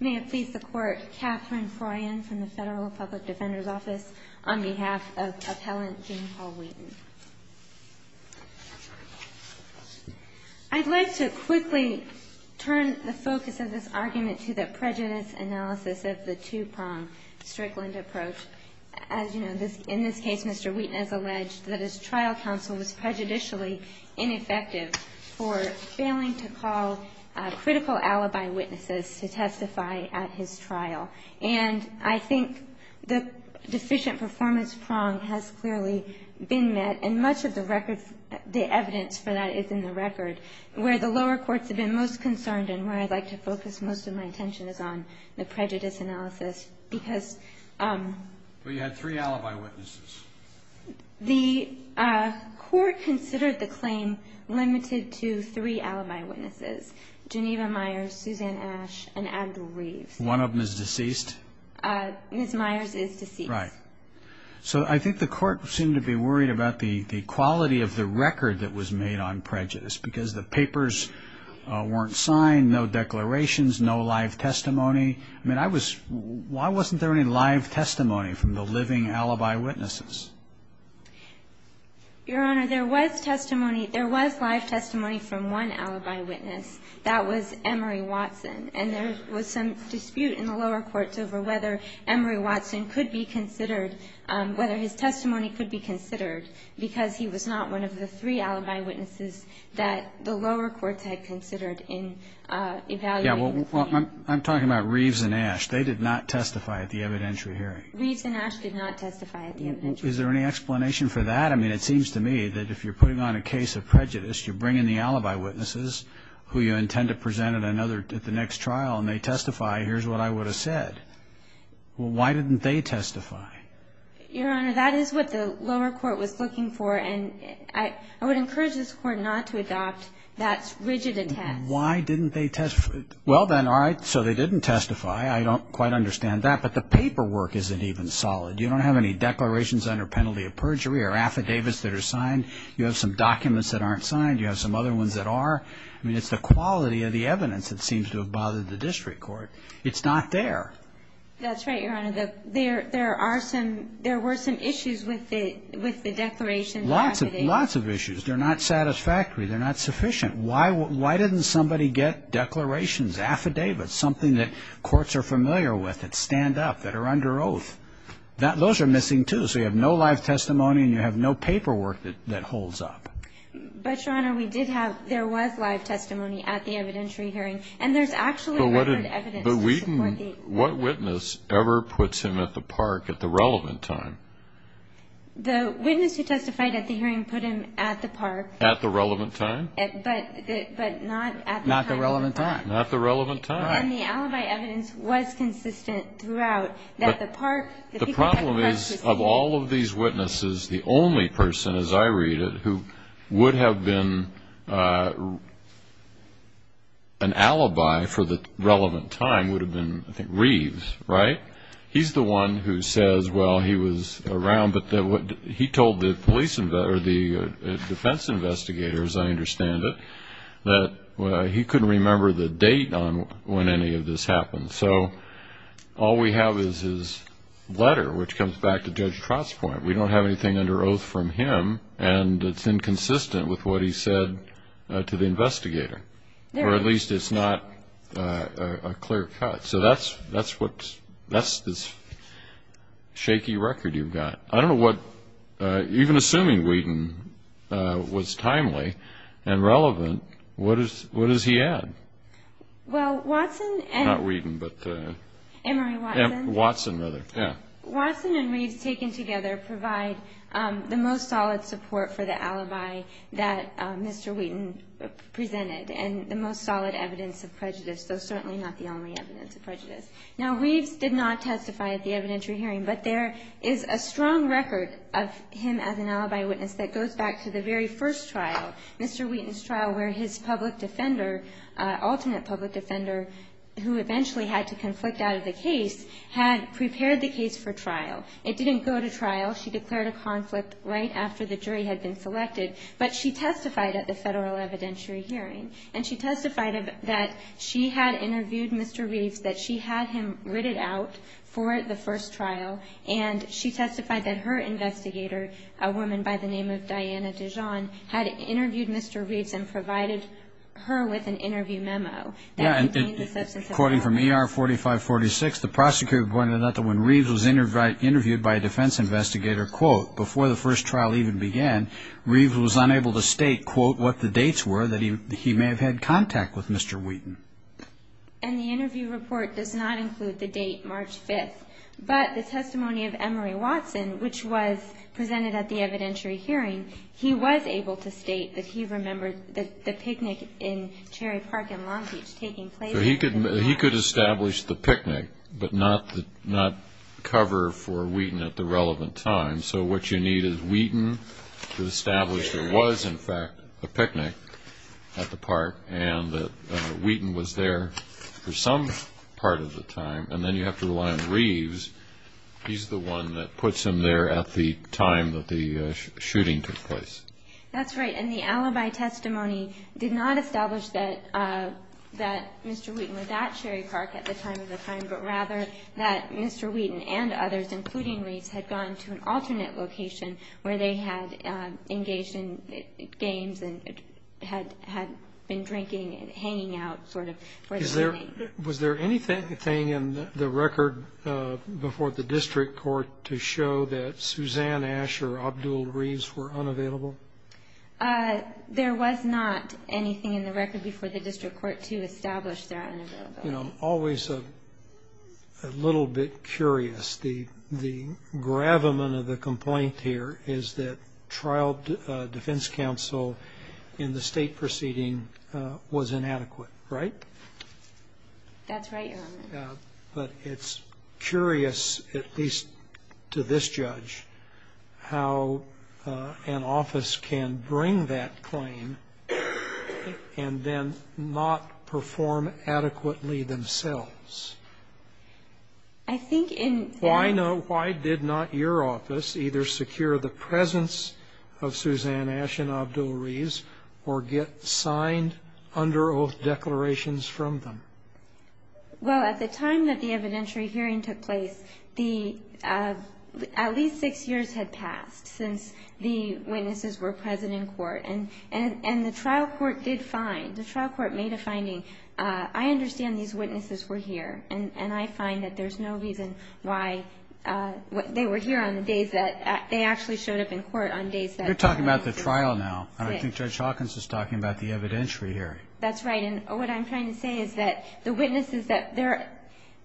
May it please the Court, Katherine Froyen from the Federal Public Defender's Office on behalf of Appellant Gene Paul Wheaton. I'd like to quickly turn the focus of this argument to the prejudice analysis of the two-pronged Strickland approach. As you know, in this case, Mr. Wheaton has alleged that his trial counsel was prejudicially ineffective for failing to call critical alibi witnesses to testify at his trial. And I think the deficient performance prong has clearly been met, and much of the evidence for that is in the record. Where the lower courts have been most concerned and where I'd like to focus most of my attention is on the prejudice analysis. Well, you had three alibi witnesses. The Court considered the claim limited to three alibi witnesses, Geneva Myers, Suzanne Ash, and Andrew Reeves. One of them is deceased? Ms. Myers is deceased. Right. So I think the Court seemed to be worried about the quality of the record that was made on prejudice, because the papers weren't signed, no declarations, no live testimony. I mean, I was why wasn't there any live testimony from the living alibi witnesses? Your Honor, there was testimony. There was live testimony from one alibi witness. That was Emery Watson. And there was some dispute in the lower courts over whether Emery Watson could be considered whether his testimony could be considered, because he was not one of the three alibi Reeves and Ash, they did not testify at the evidentiary hearing. Reeves and Ash did not testify at the evidentiary hearing. Is there any explanation for that? I mean, it seems to me that if you're putting on a case of prejudice, you bring in the alibi witnesses who you intend to present at the next trial, and they testify, here's what I would have said. Well, why didn't they testify? Your Honor, that is what the lower court was looking for, and I would encourage this Court not to adopt that rigid attest. Why didn't they testify? Well, then, all right, so they didn't testify. I don't quite understand that. But the paperwork isn't even solid. You don't have any declarations under penalty of perjury or affidavits that are signed. You have some documents that aren't signed. You have some other ones that are. I mean, it's the quality of the evidence that seems to have bothered the district court. It's not there. That's right, Your Honor. There were some issues with the declarations and affidavits. Lots of issues. They're not satisfactory. They're not sufficient. Why didn't somebody get declarations, affidavits, something that courts are familiar with, that stand up, that are under oath? Those are missing, too. So you have no live testimony, and you have no paperwork that holds up. But, Your Honor, we did have ñ there was live testimony at the evidentiary hearing, and there's actually record evidence. But what witness ever puts him at the park at the relevant time? The witness who testified at the hearing put him at the park. At the relevant time? But not at the time. Not the relevant time. Not the relevant time. And the alibi evidence was consistent throughout. The problem is, of all of these witnesses, the only person, as I read it, who would have been an alibi for the relevant time would have been, I think, Reeves, right? He's the one who says, well, he was around. He told the police ñ or the defense investigators, I understand it, that he couldn't remember the date on when any of this happened. So all we have is his letter, which comes back to Judge Trott's point. We don't have anything under oath from him, and it's inconsistent with what he said to the investigator. Or at least it's not a clear cut. So that's this shaky record you've got. I don't know what ñ even assuming Whedon was timely and relevant, what does he add? Well, Watson and ñ Not Whedon, but ñ Emory Watson. Watson, rather, yeah. Watson and Reeves taken together provide the most solid support for the alibi that Mr. Whedon presented and the most solid evidence of prejudice, though certainly not the only evidence of prejudice. Now, Reeves did not testify at the evidentiary hearing, but there is a strong record of him as an alibi witness that goes back to the very first trial, Mr. Whedon's trial, where his public defender, alternate public defender, who eventually had to conflict out of the case, had prepared the case for trial. It didn't go to trial. She declared a conflict right after the jury had been selected, but she testified at the federal evidentiary hearing, and she testified that she had interviewed Mr. Reeves, that she had him ritted out for the first trial, and she testified that her investigator, a woman by the name of Diana Dijon, had interviewed Mr. Reeves and provided her with an interview memo. Yeah, and according from ER 4546, the prosecutor pointed out that when Reeves was interviewed by a defense investigator, quote, before the first trial even began, Reeves was unable to state, quote, what the dates were that he may have had contact with Mr. Whedon. And the interview report does not include the date, March 5th. But the testimony of Emery Watson, which was presented at the evidentiary hearing, he was able to state that he remembered the picnic in Cherry Park in Long Beach taking place. So he could establish the picnic, but not cover for Whedon at the relevant time. So what you need is Whedon to establish there was, in fact, a picnic at the park and that Whedon was there for some part of the time, and then you have to rely on Reeves. He's the one that puts him there at the time that the shooting took place. That's right. And the alibi testimony did not establish that Mr. Whedon was at Cherry Park at the time of the crime, but rather that Mr. Whedon and others, including Reeves, had gone to an alternate location where they had engaged in games and had been drinking and hanging out sort of for the evening. Was there anything in the record before the district court to show that Suzanne Nash or Abdul Reeves were unavailable? There was not anything in the record before the district court to establish their unavailability. I'm always a little bit curious. The gravamen of the complaint here is that trial defense counsel in the state proceeding was inadequate, right? That's right, Your Honor. But it's curious, at least to this judge, how an office can bring that claim and then not perform adequately themselves. Why did not your office either secure the presence of Suzanne Nash and Abdul Reeves or get signed under oath declarations from them? Well, at the time that the evidentiary hearing took place, at least six years had passed since the witnesses were present in court, and the trial court did find, the trial court made a finding. I understand these witnesses were here, and I find that there's no reason why they were here on the days that they actually showed up in court on days that they weren't. You're talking about the trial now, and I think Judge Hawkins is talking about the evidentiary hearing. That's right. And what I'm trying to say is that the witnesses, that their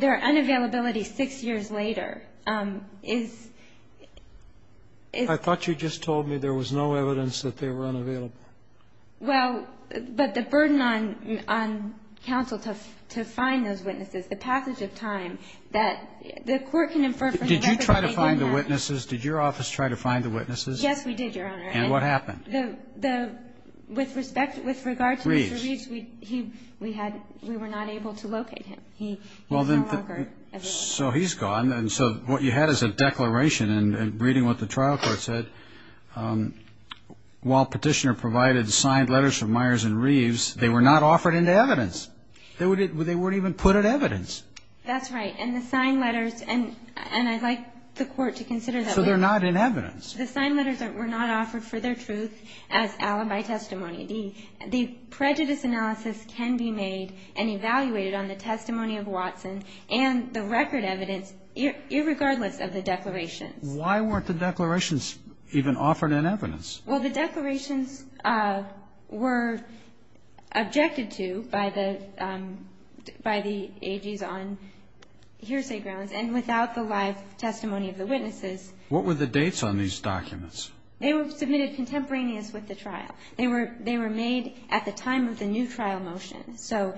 unavailability six years later is ‑‑ I thought you just told me there was no evidence that they were unavailable. Well, but the burden on counsel to find those witnesses, the passage of time that the court can infer from the record that they were here. Did you try to find the witnesses? Did your office try to find the witnesses? Yes, we did, Your Honor. And what happened? With respect, with regard to Mr. Reeves, we had ‑‑ we were not able to locate him. He was no longer ‑‑ So he's gone, and so what you had is a declaration, and reading what the trial court said, while Petitioner provided signed letters from Myers and Reeves, they were not offered into evidence. They weren't even put in evidence. That's right. And the signed letters, and I'd like the court to consider that. So they're not in evidence. The signed letters were not offered for their truth as alibi testimony. The prejudice analysis can be made and evaluated on the testimony of Watson and the record evidence, irregardless of the declarations. Why weren't the declarations even offered in evidence? Well, the declarations were objected to by the AGs on hearsay grounds and without the live testimony of the witnesses. What were the dates on these documents? They were submitted contemporaneous with the trial. They were made at the time of the new trial motion. So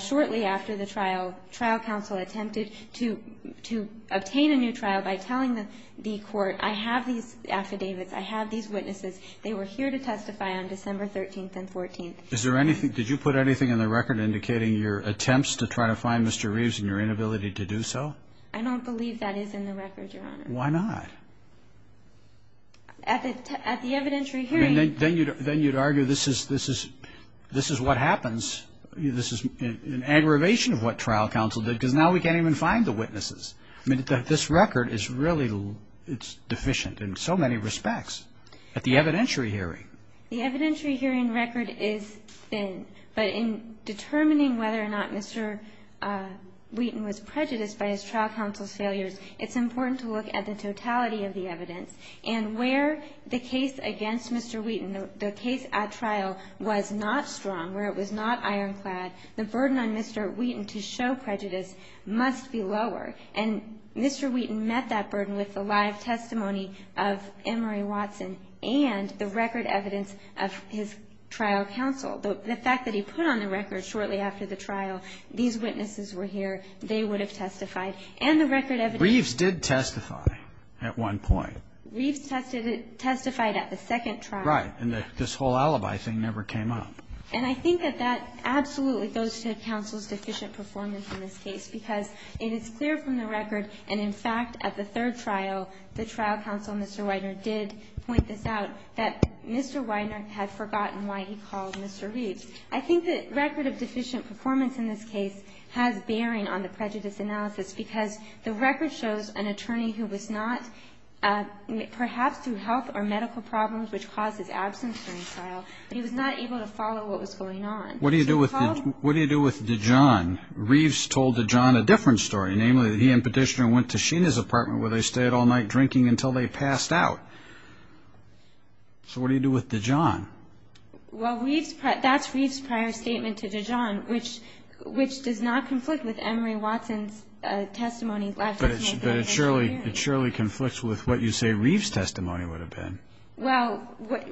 shortly after the trial, trial counsel attempted to obtain a new trial by telling the court, I have these affidavits, I have these witnesses. They were here to testify on December 13th and 14th. Is there anything ‑‑ did you put anything in the record indicating your attempts to try to find Mr. Reeves and your inability to do so? I don't believe that is in the record, Your Honor. Why not? At the evidentiary hearing. Then you would argue this is what happens. This is an aggravation of what trial counsel did because now we can't even find the witnesses. This record is really deficient in so many respects. At the evidentiary hearing. The evidentiary hearing record is thin, but in determining whether or not Mr. Wheaton was prejudiced by his trial counsel's failures, it's important to look at the totality of the evidence and where the case against Mr. Wheaton, the case at trial was not strong, where it was not ironclad, the burden on Mr. Wheaton to show prejudice must be lower. And Mr. Wheaton met that burden with the live testimony of Emory Watson and the record evidence of his trial counsel. The fact that he put on the record shortly after the trial, these witnesses were here, they would have testified. And the record evidence. Reeves did testify at one point. Reeves testified at the second trial. Right. And this whole alibi thing never came up. And I think that that absolutely goes to counsel's deficient performance in this case because it is clear from the record, and in fact, at the third trial, the trial counsel, Mr. Widener, did point this out, that Mr. Widener had forgotten why he called Mr. Reeves. I think that record of deficient performance in this case has bearing on the prejudice analysis because the record shows an attorney who was not, perhaps through health or medical problems which caused his absence during trial, he was not able to follow what was going on. What do you do with Dijon? Reeves told Dijon a different story, namely that he and Petitioner went to Sheena's apartment where they stayed all night drinking until they passed out. So what do you do with Dijon? Well, that's Reeves' prior statement to Dijon, which does not conflict with Emory Watson's testimony. But it surely conflicts with what you say Reeves' testimony would have been. Well,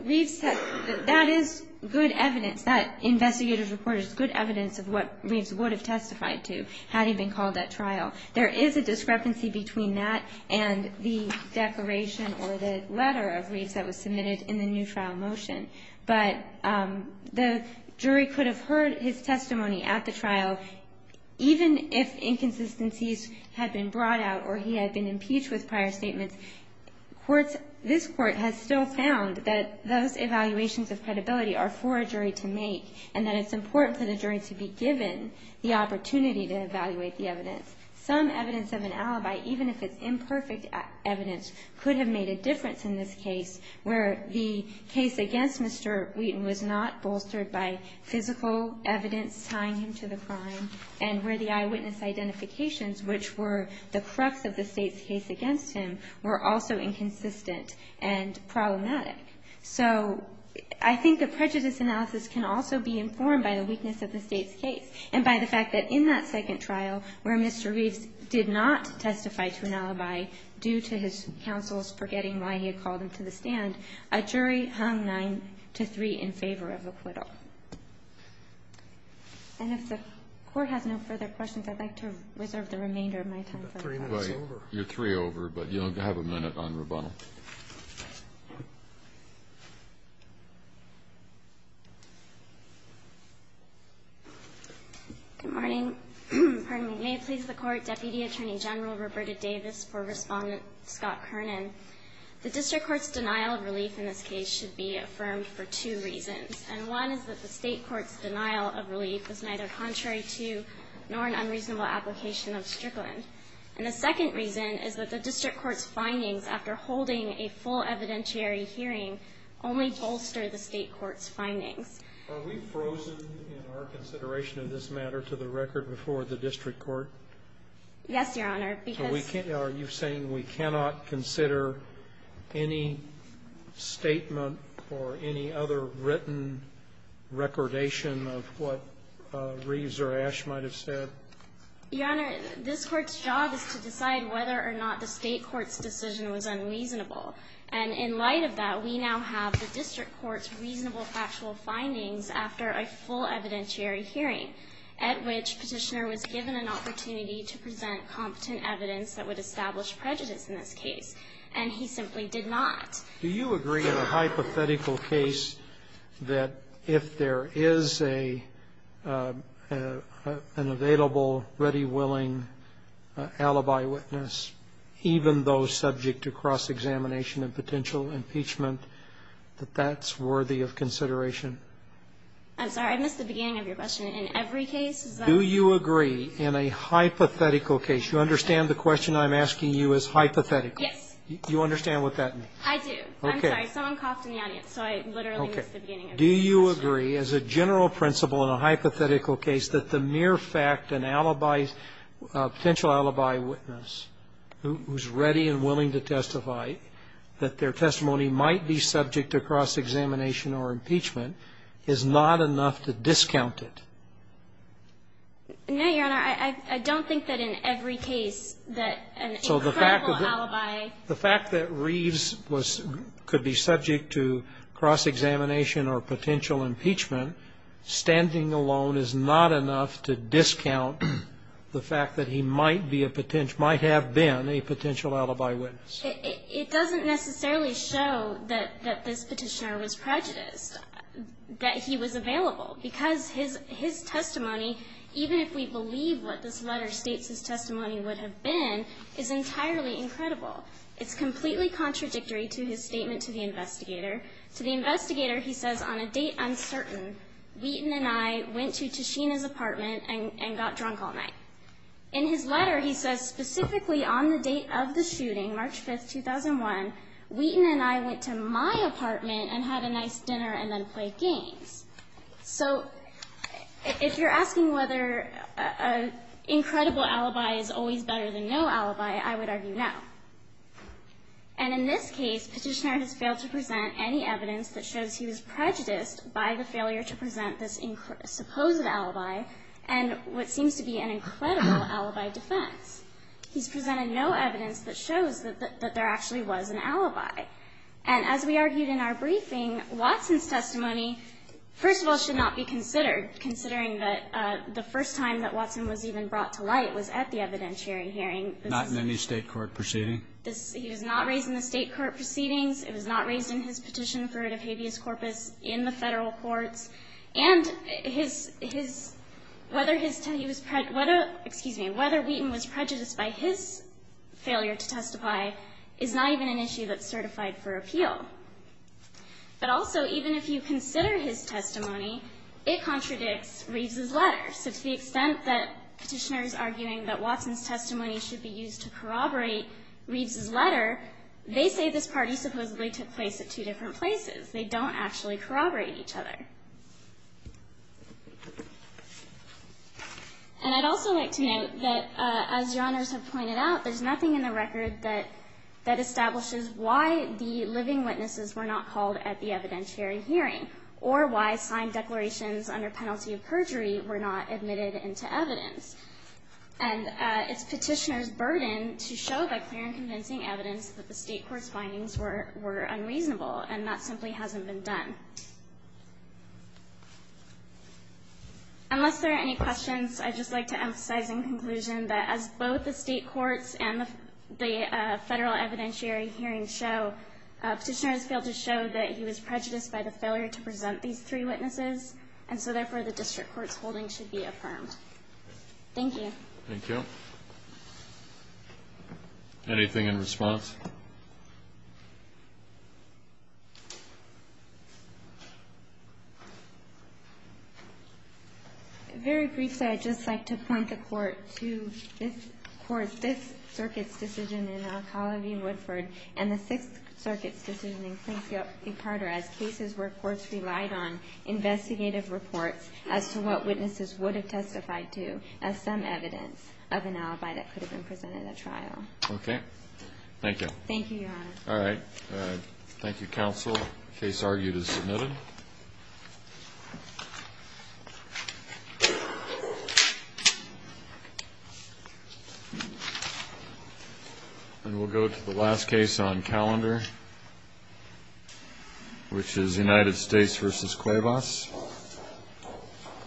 Reeves' testimony, that is good evidence. That investigative report is good evidence of what Reeves would have testified to had he been called at trial. There is a discrepancy between that and the declaration or the letter of Reeves that was submitted in the new trial motion. But the jury could have heard his testimony at the trial even if inconsistencies had been brought out or he had been impeached with prior statements. This Court has still found that those evaluations of credibility are for a jury to make and that it's important for the jury to be given the opportunity to evaluate the evidence. Some evidence of an alibi, even if it's imperfect evidence, could have made a difference in this case where the case against Mr. Wheaton was not bolstered by physical evidence tying him to the crime and where the eyewitness identifications, which were the crux of the State's case against him, were also inconsistent and problematic. So I think the prejudice analysis can also be informed by the weakness of the State's case and by the fact that in that second trial where Mr. Reeves did not testify to an alibi due to his counsel's forgetting why he had called him to the stand, a jury hung 9-3 in favor of acquittal. And if the Court has no further questions, I'd like to reserve the remainder of my time. Breyer, you're three over, but you'll have a minute on rebuttal. Good morning. May it please the Court, Deputy Attorney General Roberta Davis for Respondent Scott Kernan. The District Court's denial of relief in this case should be affirmed for two reasons. And one is that the State Court's denial of relief is neither contrary to nor an unreasonable application of Strickland. And the second reason is that the District Court's findings, after holding a full evidentiary hearing, only bolster the State Court's findings. Are we frozen in our consideration of this matter to the record before the District Court? Yes, Your Honor, because Are you saying we cannot consider any statement or any other written recordation of what Reeves or Ash might have said? Your Honor, this Court's job is to decide whether or not the State Court's decision was unreasonable. And in light of that, we now have the District Court's reasonable factual findings after a full evidentiary hearing, at which Petitioner was given an opportunity to present competent evidence that would establish prejudice in this case. And he simply did not. Do you agree in a hypothetical case that if there is an available, ready, willing alibi witness, even though subject to cross-examination and potential impeachment, that that's worthy of consideration? I'm sorry. I missed the beginning of your question. In every case, is that the case? Do you agree in a hypothetical case? You understand the question I'm asking you is hypothetical? Yes. You understand what that means? I do. Okay. I'm sorry. Someone coughed in the audience, so I literally missed the beginning of your question. Do you agree as a general principle in a hypothetical case that the mere fact an alibi witness, a potential alibi witness, who's ready and willing to testify that their testimony might be subject to cross-examination or impeachment is not enough to discount it? No, Your Honor. I don't think that in every case that an incredible alibi ---- So the fact that Reeves could be subject to cross-examination or potential impeachment standing alone is not enough to discount the fact that he might be a potential ---- might have been a potential alibi witness. It doesn't necessarily show that this Petitioner was prejudiced, that he was available, because his testimony, even if we believe what this letter states his testimony would have been, is entirely incredible. It's completely contradictory to his statement to the investigator. To the investigator, he says, on a date uncertain, Wheaton and I went to Tashina's apartment and got drunk all night. In his letter, he says specifically on the date of the shooting, March 5, 2001, Wheaton and I went to my apartment and had a nice dinner and then played games. So if you're asking whether an incredible alibi is always better than no alibi, I would argue no. And in this case, Petitioner has failed to present any evidence that shows he was prejudiced by the failure to present this supposed alibi and what seems to be an incredible alibi defense. He's presented no evidence that shows that there actually was an alibi. And as we argued in our briefing, Watson's testimony, first of all, should not be considered, considering that the first time that Watson was even brought to light was at the evidentiary and not in any State court proceeding. He was not raised in the State court proceedings. It was not raised in his petition for writ of habeas corpus in the Federal courts. And his – whether his – excuse me, whether Wheaton was prejudiced by his failure to testify is not even an issue that's certified for appeal. But also, even if you consider his testimony, it contradicts Reeves's letter. So to the extent that Petitioner is arguing that Watson's testimony should be used to corroborate Reeves's letter, they say this party supposedly took place at two different places. They don't actually corroborate each other. And I'd also like to note that, as Your Honors have pointed out, there's nothing in the record that establishes why the living witnesses were not called at the evidentiary hearing, or why signed declarations under penalty of perjury were not admitted into evidence. And it's Petitioner's burden to show by clear and convincing evidence that the State court's findings were unreasonable, and that simply hasn't been done. Unless there are any questions, I'd just like to emphasize in conclusion that as both the State courts and the Federal evidentiary hearings show, Petitioner has failed to show that he was prejudiced by the failure to present these three witnesses. And so therefore, the district court's holding should be affirmed. Thank you. Thank you. Anything in response? Very briefly, I'd just like to point the Court to this Circuit's decision in Alcala v. Carter as cases where courts relied on investigative reports as to what witnesses would have testified to as some evidence of an alibi that could have been presented at trial. Okay. Thank you. Thank you, Your Honor. All right. Thank you, Counsel. The case argued is submitted. And we'll go to the last case on calendar, which is United States v. Cuevas.